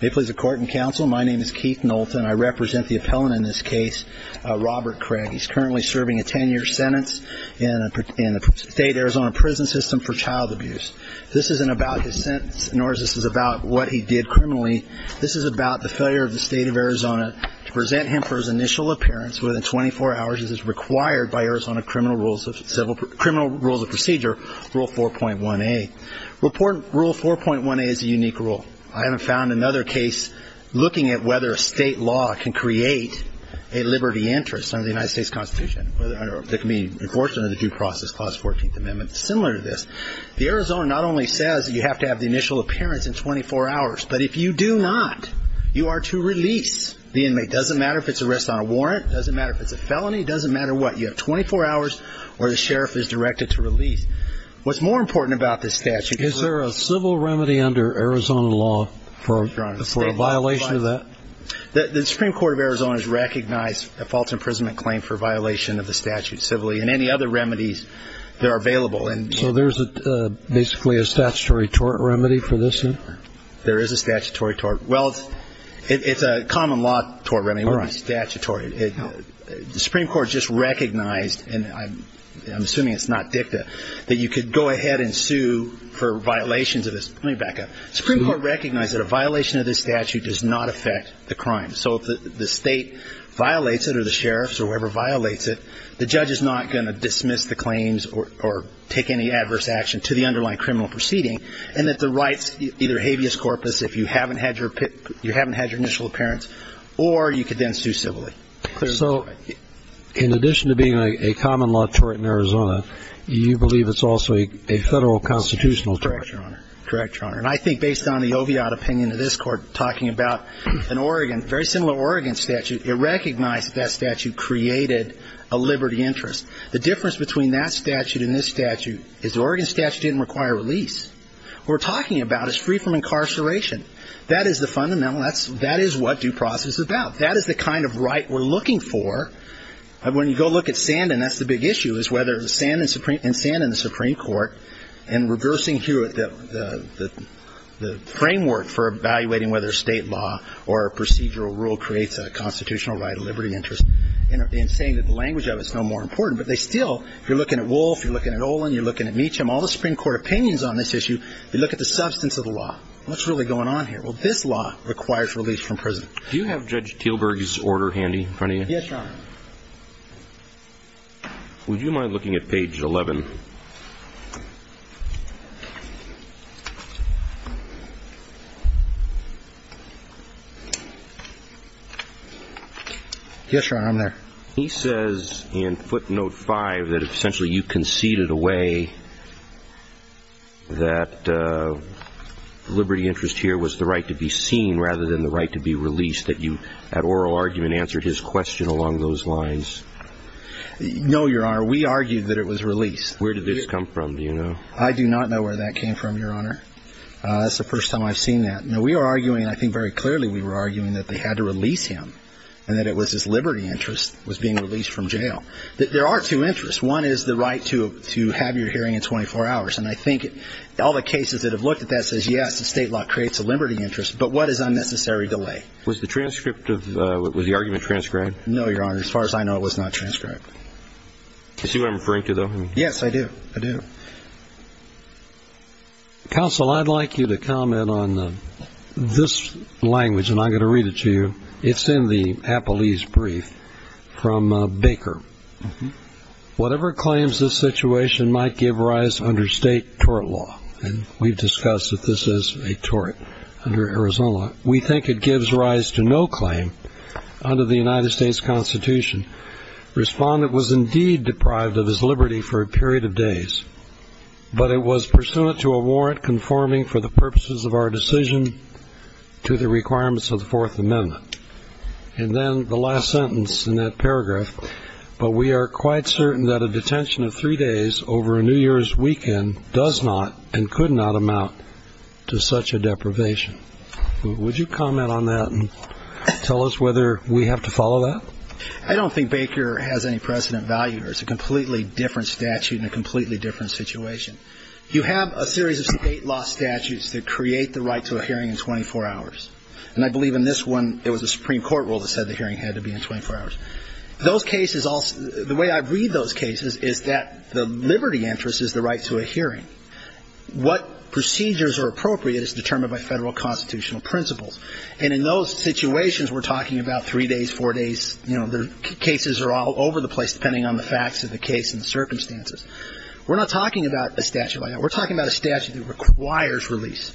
May it please the Court and Counsel, my name is Keith Knowlton. I represent the appellant in this case, Robert Craig. He's currently serving a 10-year sentence in the state Arizona prison system for child abuse. This isn't about his sentence, nor is this about what he did criminally. This is about the failure of the state of Arizona to present him for his initial appearance within 24 hours as is required by Arizona Criminal Rules of Procedure, Rule 4.1a. Report Rule 4.1a is a unique rule. I haven't found another case looking at whether a state law can create a liberty interest under the United States Constitution, whether it can be enforced under the Due Process Clause 14th Amendment. It's similar to this. The Arizona not only says you have to have the initial appearance in 24 hours, but if you do not, you are to release the inmate. It doesn't matter if it's an arrest on a warrant. It doesn't matter if it's a felony. It doesn't matter what. You have 24 hours or the sheriff is directed to release. What's more important about this statute is there a civil remedy under Arizona law for a violation of that? The Supreme Court of Arizona has recognized a false imprisonment claim for violation of the statute civilly and any other remedies that are available. So there's basically a statutory tort remedy for this? There is a statutory tort. Well, it's a common law tort remedy. We're on statutory. The Supreme Court just recognized, and I'm assuming it's not dicta, that you could go ahead and sue for violations of this. Let me back up. Supreme Court recognized that a violation of this statute does not affect the crime. So if the state violates it or the sheriffs or whoever violates it, the judge is not going to dismiss the claims or take any adverse action to the underlying criminal proceeding and that the rights, either habeas corpus, if you haven't had your initial appearance, or you could then sue civilly. So in addition to being a common law tort in Arizona, you believe it's also a federal constitutional tort? Correct, Your Honor. And I think based on the Oviatt opinion of this Court talking about an Oregon, very similar Oregon statute, it recognized that that statute created a liberty interest. The difference between that statute and this statute is the Oregon statute didn't require release. What we're talking about is free from incarceration. That is the fundamental. That is what due process is about. That is the kind of right we're looking for. When you go look at Sandin, that's the big issue, is whether Sandin and Sandin and the Supreme Court and reversing the framework for evaluating whether state law or procedural rule creates a constitutional right, a liberty interest, and saying that the language of it is no more important. But they still, you're looking at Wolf, you're looking at Olin, you're looking at Meacham, all the Supreme Court opinions on this issue, you look at the substance of the law. What's really going on here? Well, this law requires release from prison. Do you have Judge Teelberg's order handy in front of you? Yes, Your Honor. Would you mind looking at page 11? Yes, Your Honor, I'm there. He says in footnote 5 that essentially you conceded away that liberty interest here was the right to be seen rather than the right to be released, that you at oral argument answered his question along those lines. No, Your Honor, we argued that it was released. Where did this come from, do you know? I do not know where that came from, Your Honor. That's the first time I've seen that. I think very clearly we were arguing that they had to release him and that it was his liberty interest was being released from jail. There are two interests. One is the right to have your hearing in 24 hours. And I think all the cases that have looked at that says, yes, the state law creates a liberty interest, but what is unnecessary delay? Was the argument transcribed? No, Your Honor, as far as I know, it was not transcribed. Do you see what I'm referring to, though? Yes, I do. Counsel, I'd like you to comment on this language, and I'm going to read it to you. It's in the Apollese Brief from Baker. Whatever claims this situation might give rise under state tort law, and we've discussed that this is a tort under Arizona, we think it gives rise to no claim under the United States Constitution. Respondent was indeed deprived of his liberty for a period of days. But it was pursuant to a warrant conforming for the purposes of our decision to the requirements of the Fourth Amendment. And then the last sentence in that paragraph, but we are quite certain that a detention of three days over a New Year's weekend does not and could not amount to such a deprivation. Would you comment on that and tell us whether we have to follow that? I don't think Baker has any precedent value here. It's a completely different statute and a completely different situation. You have a series of state law statutes that create the right to a hearing in 24 hours. And I believe in this one, it was a Supreme Court rule that said the hearing had to be in 24 hours. Those cases, the way I read those cases is that the liberty interest is the right to a hearing. What procedures are appropriate is determined by federal constitutional principles. And in those situations, we're talking about three days, four days. You know, the cases are all over the place depending on the facts of the case and the circumstances. We're not talking about a statute like that. We're talking about a statute that requires release,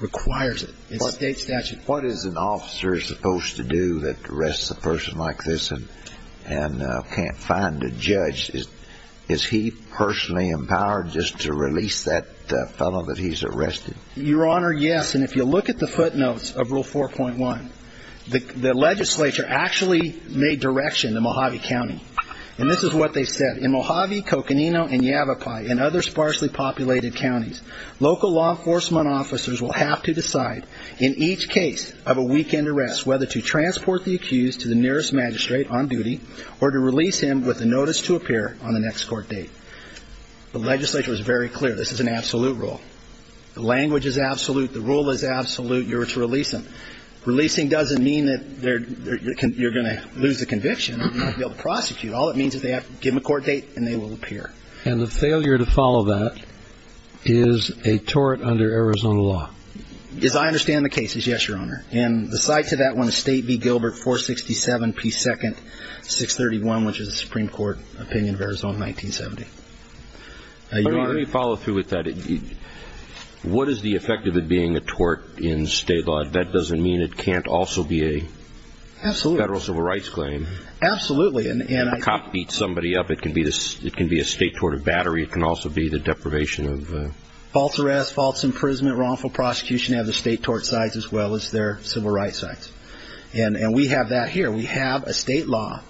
requires it. It's a state statute. What is an officer supposed to do that arrests a person like this and can't find a judge? Is he personally empowered just to release that fellow that he's arrested? Your Honor, yes. And if you look at the footnotes of Rule 4.1, the legislature actually made direction to Mojave County. And this is what they said. In Mojave, Coconino, and Yavapai and other sparsely populated counties, local law enforcement officers will have to decide in each case of a weekend arrest whether to transport the accused to the nearest magistrate on duty or to release him with a notice to appear on an ex-court date. The legislature was very clear this is an absolute rule. The language is absolute. The rule is absolute. You're to release him. Releasing doesn't mean that you're going to lose the conviction and not be able to prosecute. All it means is they have to give him a court date and they will appear. And the failure to follow that is a tort under Arizona law. As I understand the cases, yes, Your Honor. And the side to that one is State v. Gilbert 467P2 631, which is a Supreme Court opinion of Arizona 1970. Let me follow through with that. What is the effect of it being a tort in state law? That doesn't mean it can't also be a federal civil rights claim. Absolutely. If a cop beats somebody up, it can be a state tort of battery. It can also be the deprivation of... False arrest, false imprisonment, wrongful prosecution of the state tort sites as well as their civil rights sites. And we have that here. We have a state law.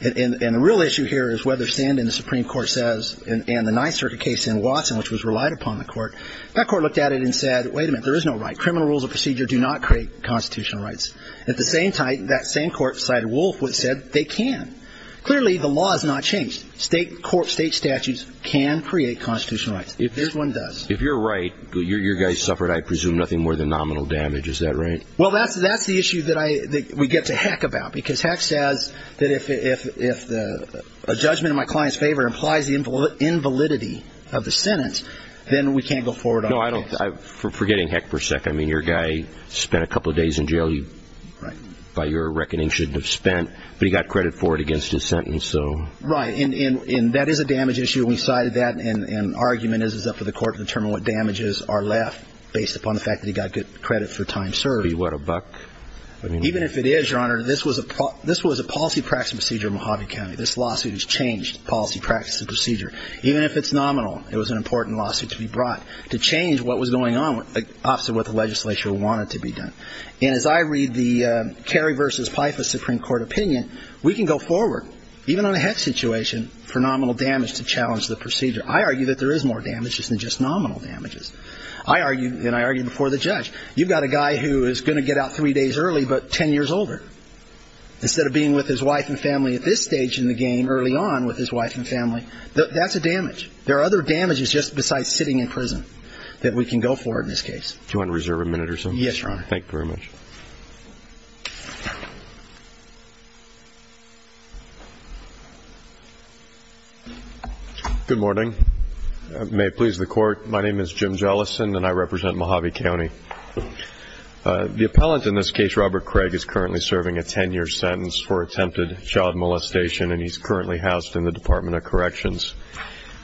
And the real issue here is whether Sandin, the Supreme Court says, and the 9th Circuit case in Watson, which was relied upon the court, that court looked at it and said, wait a minute, there is no right. Criminal rules of procedure do not create constitutional rights. At the same time, that same court, Cider Wolf, said they can. Clearly, the law has not changed. State statutes can create constitutional rights. There's one that does. If you're right, you guys suffered, I presume, nothing more than nominal damage. Is that right? Well, that's the issue that we get to heck about because Heck says that if a judgment in my client's favor implies the invalidity of the sentence, then we can't go forward on it. No, I don't... Forgetting Heck for a second, I mean, your guy spent a couple of days in jail you by your reckoning shouldn't have spent, but he got credit for it against his sentence, so... Right. And that is a damage issue, and we cited that. And our argument is it's up to the court to determine what damages are left based upon the fact that he got good credit for time served. What, a buck? Even if it is, Your Honor, this was a policy practice procedure in Mojave County. This lawsuit has changed policy practice and procedure. Even if it's nominal, it was an important lawsuit to be brought to change what was going on opposite what the legislature wanted to be done. And as I read the Kerry v. Pfeiffer Supreme Court opinion, we can go forward, even on a Heck situation, for nominal damage to challenge the procedure. I argue that there is more damage than just nominal damages. I argue, and I argued before the judge, you've got a guy who is going to get out three days early but 10 years older. Instead of being with his wife and family at this stage in the game, early on with his wife and family, that's a damage. There are other damages just besides sitting in prison that we can go for in this case. Do you want to reserve a minute or so? Yes, Your Honor. Thank you very much. Good morning. May it please the Court. My name is Jim Jellison, and I represent Mojave County. The appellant in this case, Robert Craig, is currently serving a 10-year sentence for attempted child molestation, and he's currently housed in the Department of Corrections.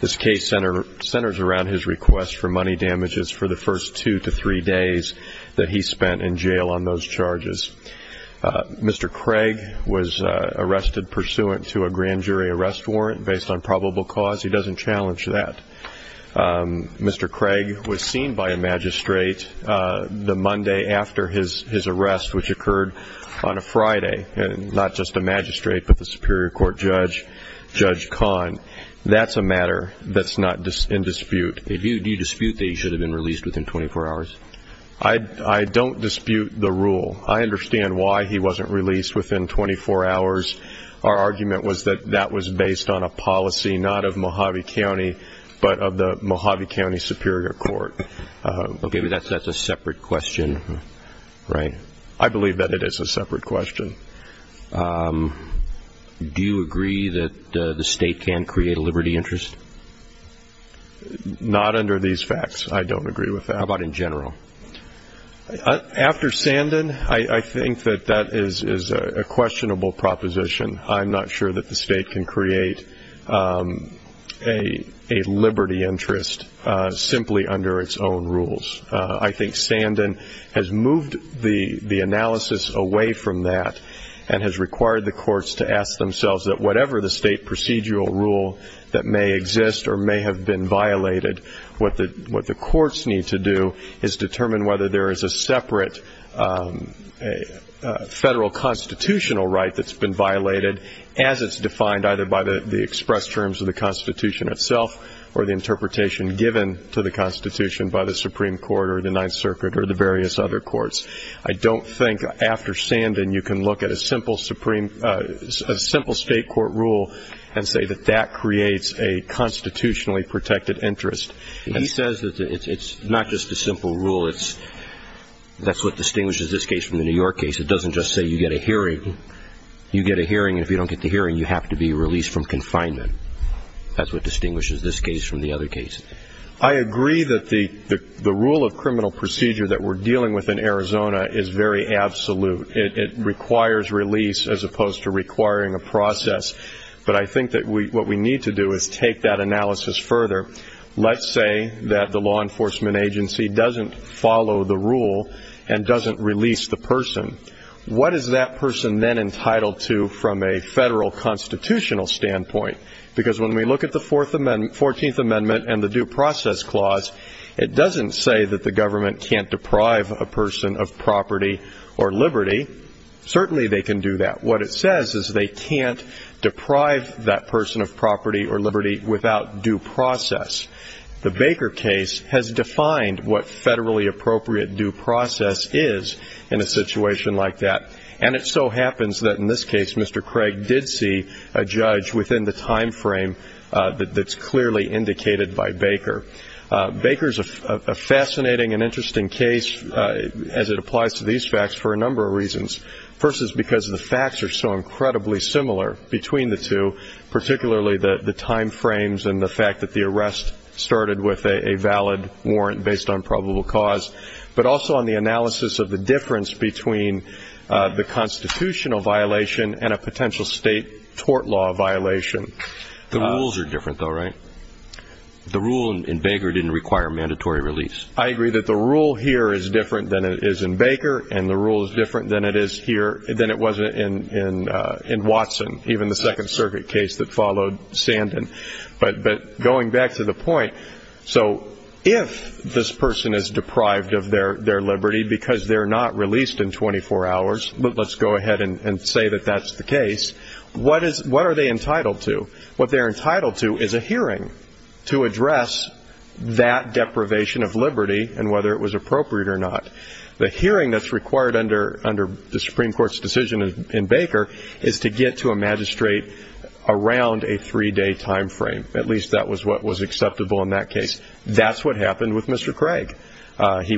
This case centers around his request for money damages for the first two to three days that he spent in jail on those charges. Mr. Craig was arrested pursuant to a grand jury arrest warrant based on probable cause. He doesn't challenge that. Mr. Craig was seen by a magistrate the Monday after his arrest, which occurred on a Friday, and not just a magistrate but the Superior Court Judge, Judge Kahn. That's a matter that's not in dispute. Do you dispute that he should have been released within 24 hours? I don't dispute the rule. I understand why he wasn't released within 24 hours. Our argument was that that was based on a policy not of Mojave County but of the Mojave County Superior Court. Okay, but that's a separate question, right? I believe that it is a separate question. Do you agree that the state can create a liberty interest? Not under these facts. I don't agree with that. How about in general? After Sandin, I think that that is a questionable proposition. I'm not sure that the state can create a liberty interest simply under its own rules. I think Sandin has moved the analysis away from that and has required the courts to ask themselves that whatever the state procedural rule that may exist or may have been violated, what the courts need to do is determine whether there is a separate federal constitutional right that's been violated as it's defined either by the express terms of the Constitution itself or the interpretation given to the Constitution by the Supreme Court or the Ninth Circuit or the various other courts. I don't think after Sandin you can look at a simple state court rule and say that that creates a constitutionally protected interest. He says that it's not just a simple rule. That's what distinguishes this case from the New York case. It doesn't just say you get a hearing. You get a hearing, and if you don't get the hearing, you have to be released from confinement. That's what distinguishes this case from the other cases. I agree that the rule of criminal procedure that we're dealing with in Arizona is very absolute. It requires release as opposed to requiring a process. But I think that what we need to do is take that analysis further. Let's say that the law enforcement agency doesn't follow the rule and doesn't release the person. What is that person then entitled to from a federal constitutional standpoint? Because when we look at the Fourteenth Amendment and the Due Process Clause, it doesn't say that the government can't deprive a person of property or liberty. Certainly they can do that. What it says is they can't deprive that person of property or liberty without due process. The Baker case has defined what federally appropriate due process is in a situation like that, and it so happens that in this case Mr. Craig did see a judge within the time frame that's clearly indicated by Baker. Baker is a fascinating and interesting case as it applies to these facts for a number of reasons. First is because the facts are so incredibly similar between the two, particularly the time frames and the fact that the arrest started with a valid warrant based on probable cause, but also on the analysis of the difference between the constitutional violation and a potential state tort law violation. The rules are different though, right? The rule in Baker didn't require mandatory release. I agree that the rule here is different than it is in Baker, and the rule is different than it was in Watson, even the Second Circuit case that followed Sandin. But going back to the point, so if this person is deprived of their liberty because they're not released in 24 hours, let's go ahead and say that that's the case, what are they entitled to? What they're entitled to is a hearing to address that deprivation of liberty and whether it was appropriate or not. The hearing that's required under the Supreme Court's decision in Baker is to get to a magistrate around a three-day time frame. At least that was what was acceptable in that case. That's what happened with Mr. Craig. He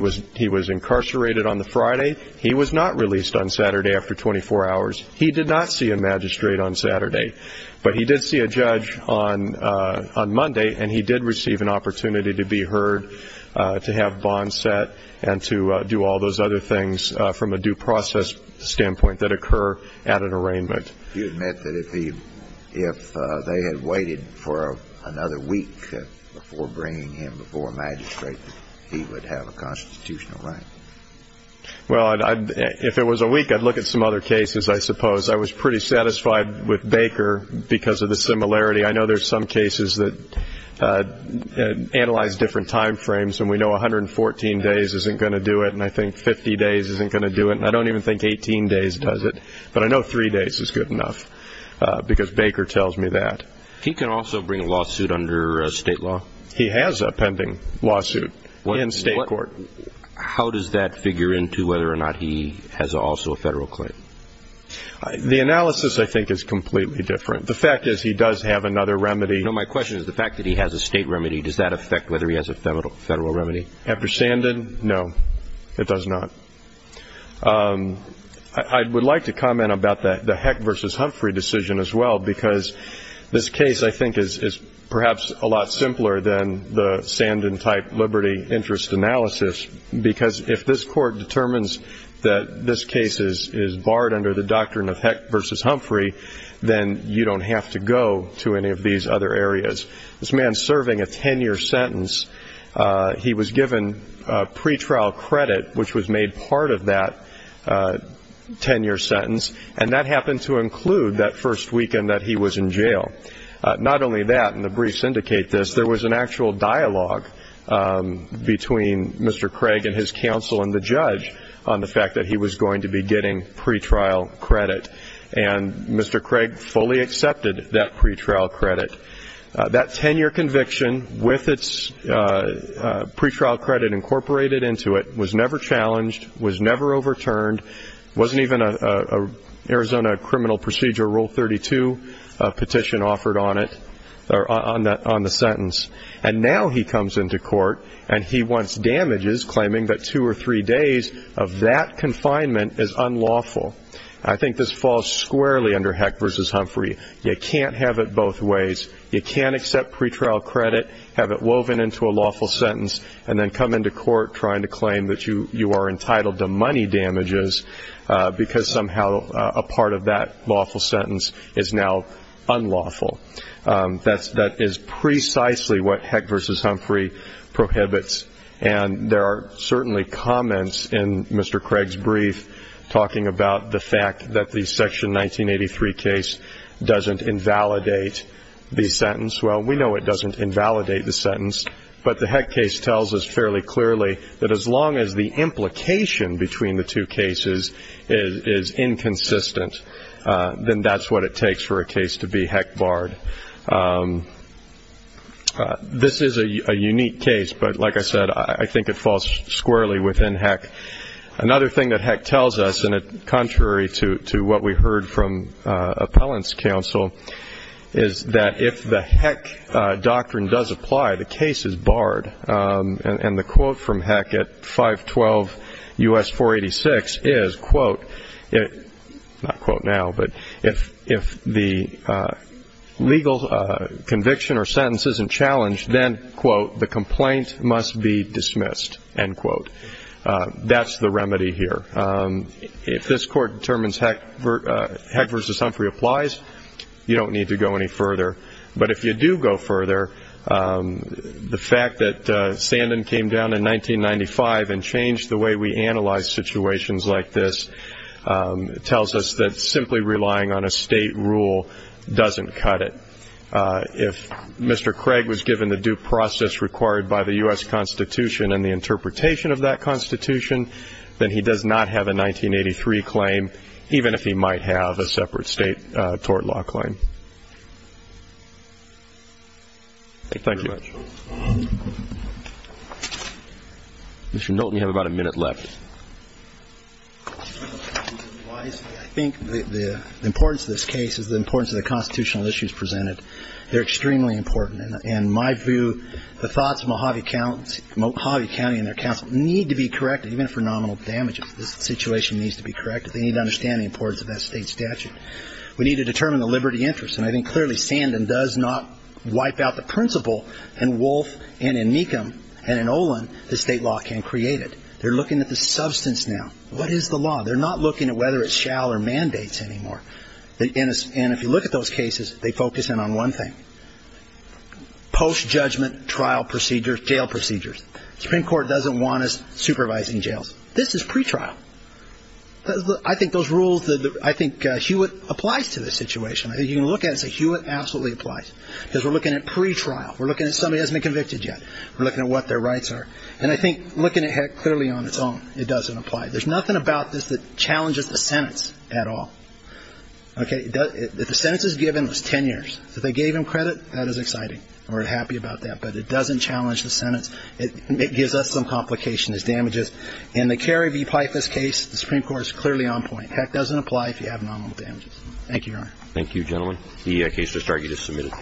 was incarcerated on the Friday. He was not released on Saturday after 24 hours. He did not see a magistrate on Saturday, but he did see a judge on Monday, and he did receive an opportunity to be heard, to have bonds set, and to do all those other things from a due process standpoint that occur at an arraignment. You admit that if they had waited for another week before bringing him before a magistrate, that he would have a constitutional right? Well, if it was a week, I'd look at some other cases, I suppose. I was pretty satisfied with Baker because of the similarity. I know there's some cases that analyze different time frames, and we know 114 days isn't going to do it, and I think 50 days isn't going to do it, and I don't even think 18 days does it. But I know three days is good enough because Baker tells me that. He can also bring a lawsuit under state law. He has a pending lawsuit in state court. How does that figure into whether or not he has also a federal claim? The analysis, I think, is completely different. The fact is he does have another remedy. No, my question is the fact that he has a state remedy, does that affect whether he has a federal remedy? After Sandin, no, it does not. I would like to comment about the Heck v. Humphrey decision as well because this case, I think, is perhaps a lot simpler than the Sandin-type liberty interest analysis because if this court determines that this case is barred under the doctrine of Heck v. Humphrey, then you don't have to go to any of these other areas. This man is serving a 10-year sentence. He was given pretrial credit, which was made part of that 10-year sentence, and that happened to include that first weekend that he was in jail. Not only that, and the briefs indicate this, there was an actual dialogue between Mr. Craig and his counsel and the judge on the fact that he was going to be getting pretrial credit, and Mr. Craig fully accepted that pretrial credit. That 10-year conviction with its pretrial credit incorporated into it was never challenged, was never overturned, wasn't even an Arizona Criminal Procedure Rule 32 petition offered on the sentence. And now he comes into court and he wants damages, claiming that two or three days of that confinement is unlawful. I think this falls squarely under Heck v. Humphrey. You can't have it both ways. You can't accept pretrial credit, have it woven into a lawful sentence, and then come into court trying to claim that you are entitled to money damages because somehow a part of that lawful sentence is now unlawful. That is precisely what Heck v. Humphrey prohibits, and there are certainly comments in Mr. Craig's brief talking about the fact that the Section 1983 case doesn't invalidate the sentence. Well, we know it doesn't invalidate the sentence, but the Heck case tells us fairly clearly that as long as the implication between the two cases is inconsistent, then that's what it takes for a case to be Heck barred. This is a unique case, but like I said, I think it falls squarely within Heck. Another thing that Heck tells us, and contrary to what we heard from appellants' counsel, is that if the Heck doctrine does apply, the case is barred. And the quote from Heck at 512 U.S. 486 is, quote, not quote now, but if the legal conviction or sentence isn't challenged, then, quote, the complaint must be dismissed, end quote. That's the remedy here. If this Court determines Heck v. Humphrey applies, you don't need to go any further. But if you do go further, the fact that Sandin came down in 1995 and changed the way we analyze situations like this tells us that simply relying on a state rule doesn't cut it. If Mr. Craig was given the due process required by the U.S. Constitution and the interpretation of that Constitution, then he does not have a 1983 claim, even if he might have a separate state tort law claim. Thank you. Mr. Knowlton, you have about a minute left. I think the importance of this case is the importance of the constitutional issues presented. They're extremely important. And in my view, the thoughts of Mojave County and their counsel need to be corrected, even if for nominal damages, the situation needs to be corrected. They need to understand the importance of that state statute. We need to determine the liberty interest. And I think clearly Sandin does not wipe out the principle in Wolfe and in Mecham and in Olin that state law can create it. They're looking at the substance now. What is the law? They're not looking at whether it's shall or mandates anymore. And if you look at those cases, they focus in on one thing, post-judgment trial procedures, jail procedures. The Supreme Court doesn't want us supervising jails. This is pretrial. I think those rules, I think Hewitt applies to this situation. You can look at it and say Hewitt absolutely applies because we're looking at pretrial. We're looking at somebody who hasn't been convicted yet. We're looking at what their rights are. And I think looking at HECC clearly on its own, it doesn't apply. There's nothing about this that challenges the sentence at all. Okay? If the sentence is given, it's ten years. If they gave him credit, that is exciting. We're happy about that. But it doesn't challenge the sentence. It gives us some complications, damages. In the Kerry v. Pythas case, the Supreme Court is clearly on point. HECC doesn't apply if you have nominal damages. Thank you, Your Honor. Thank you, gentlemen. The case was targeted as submitted.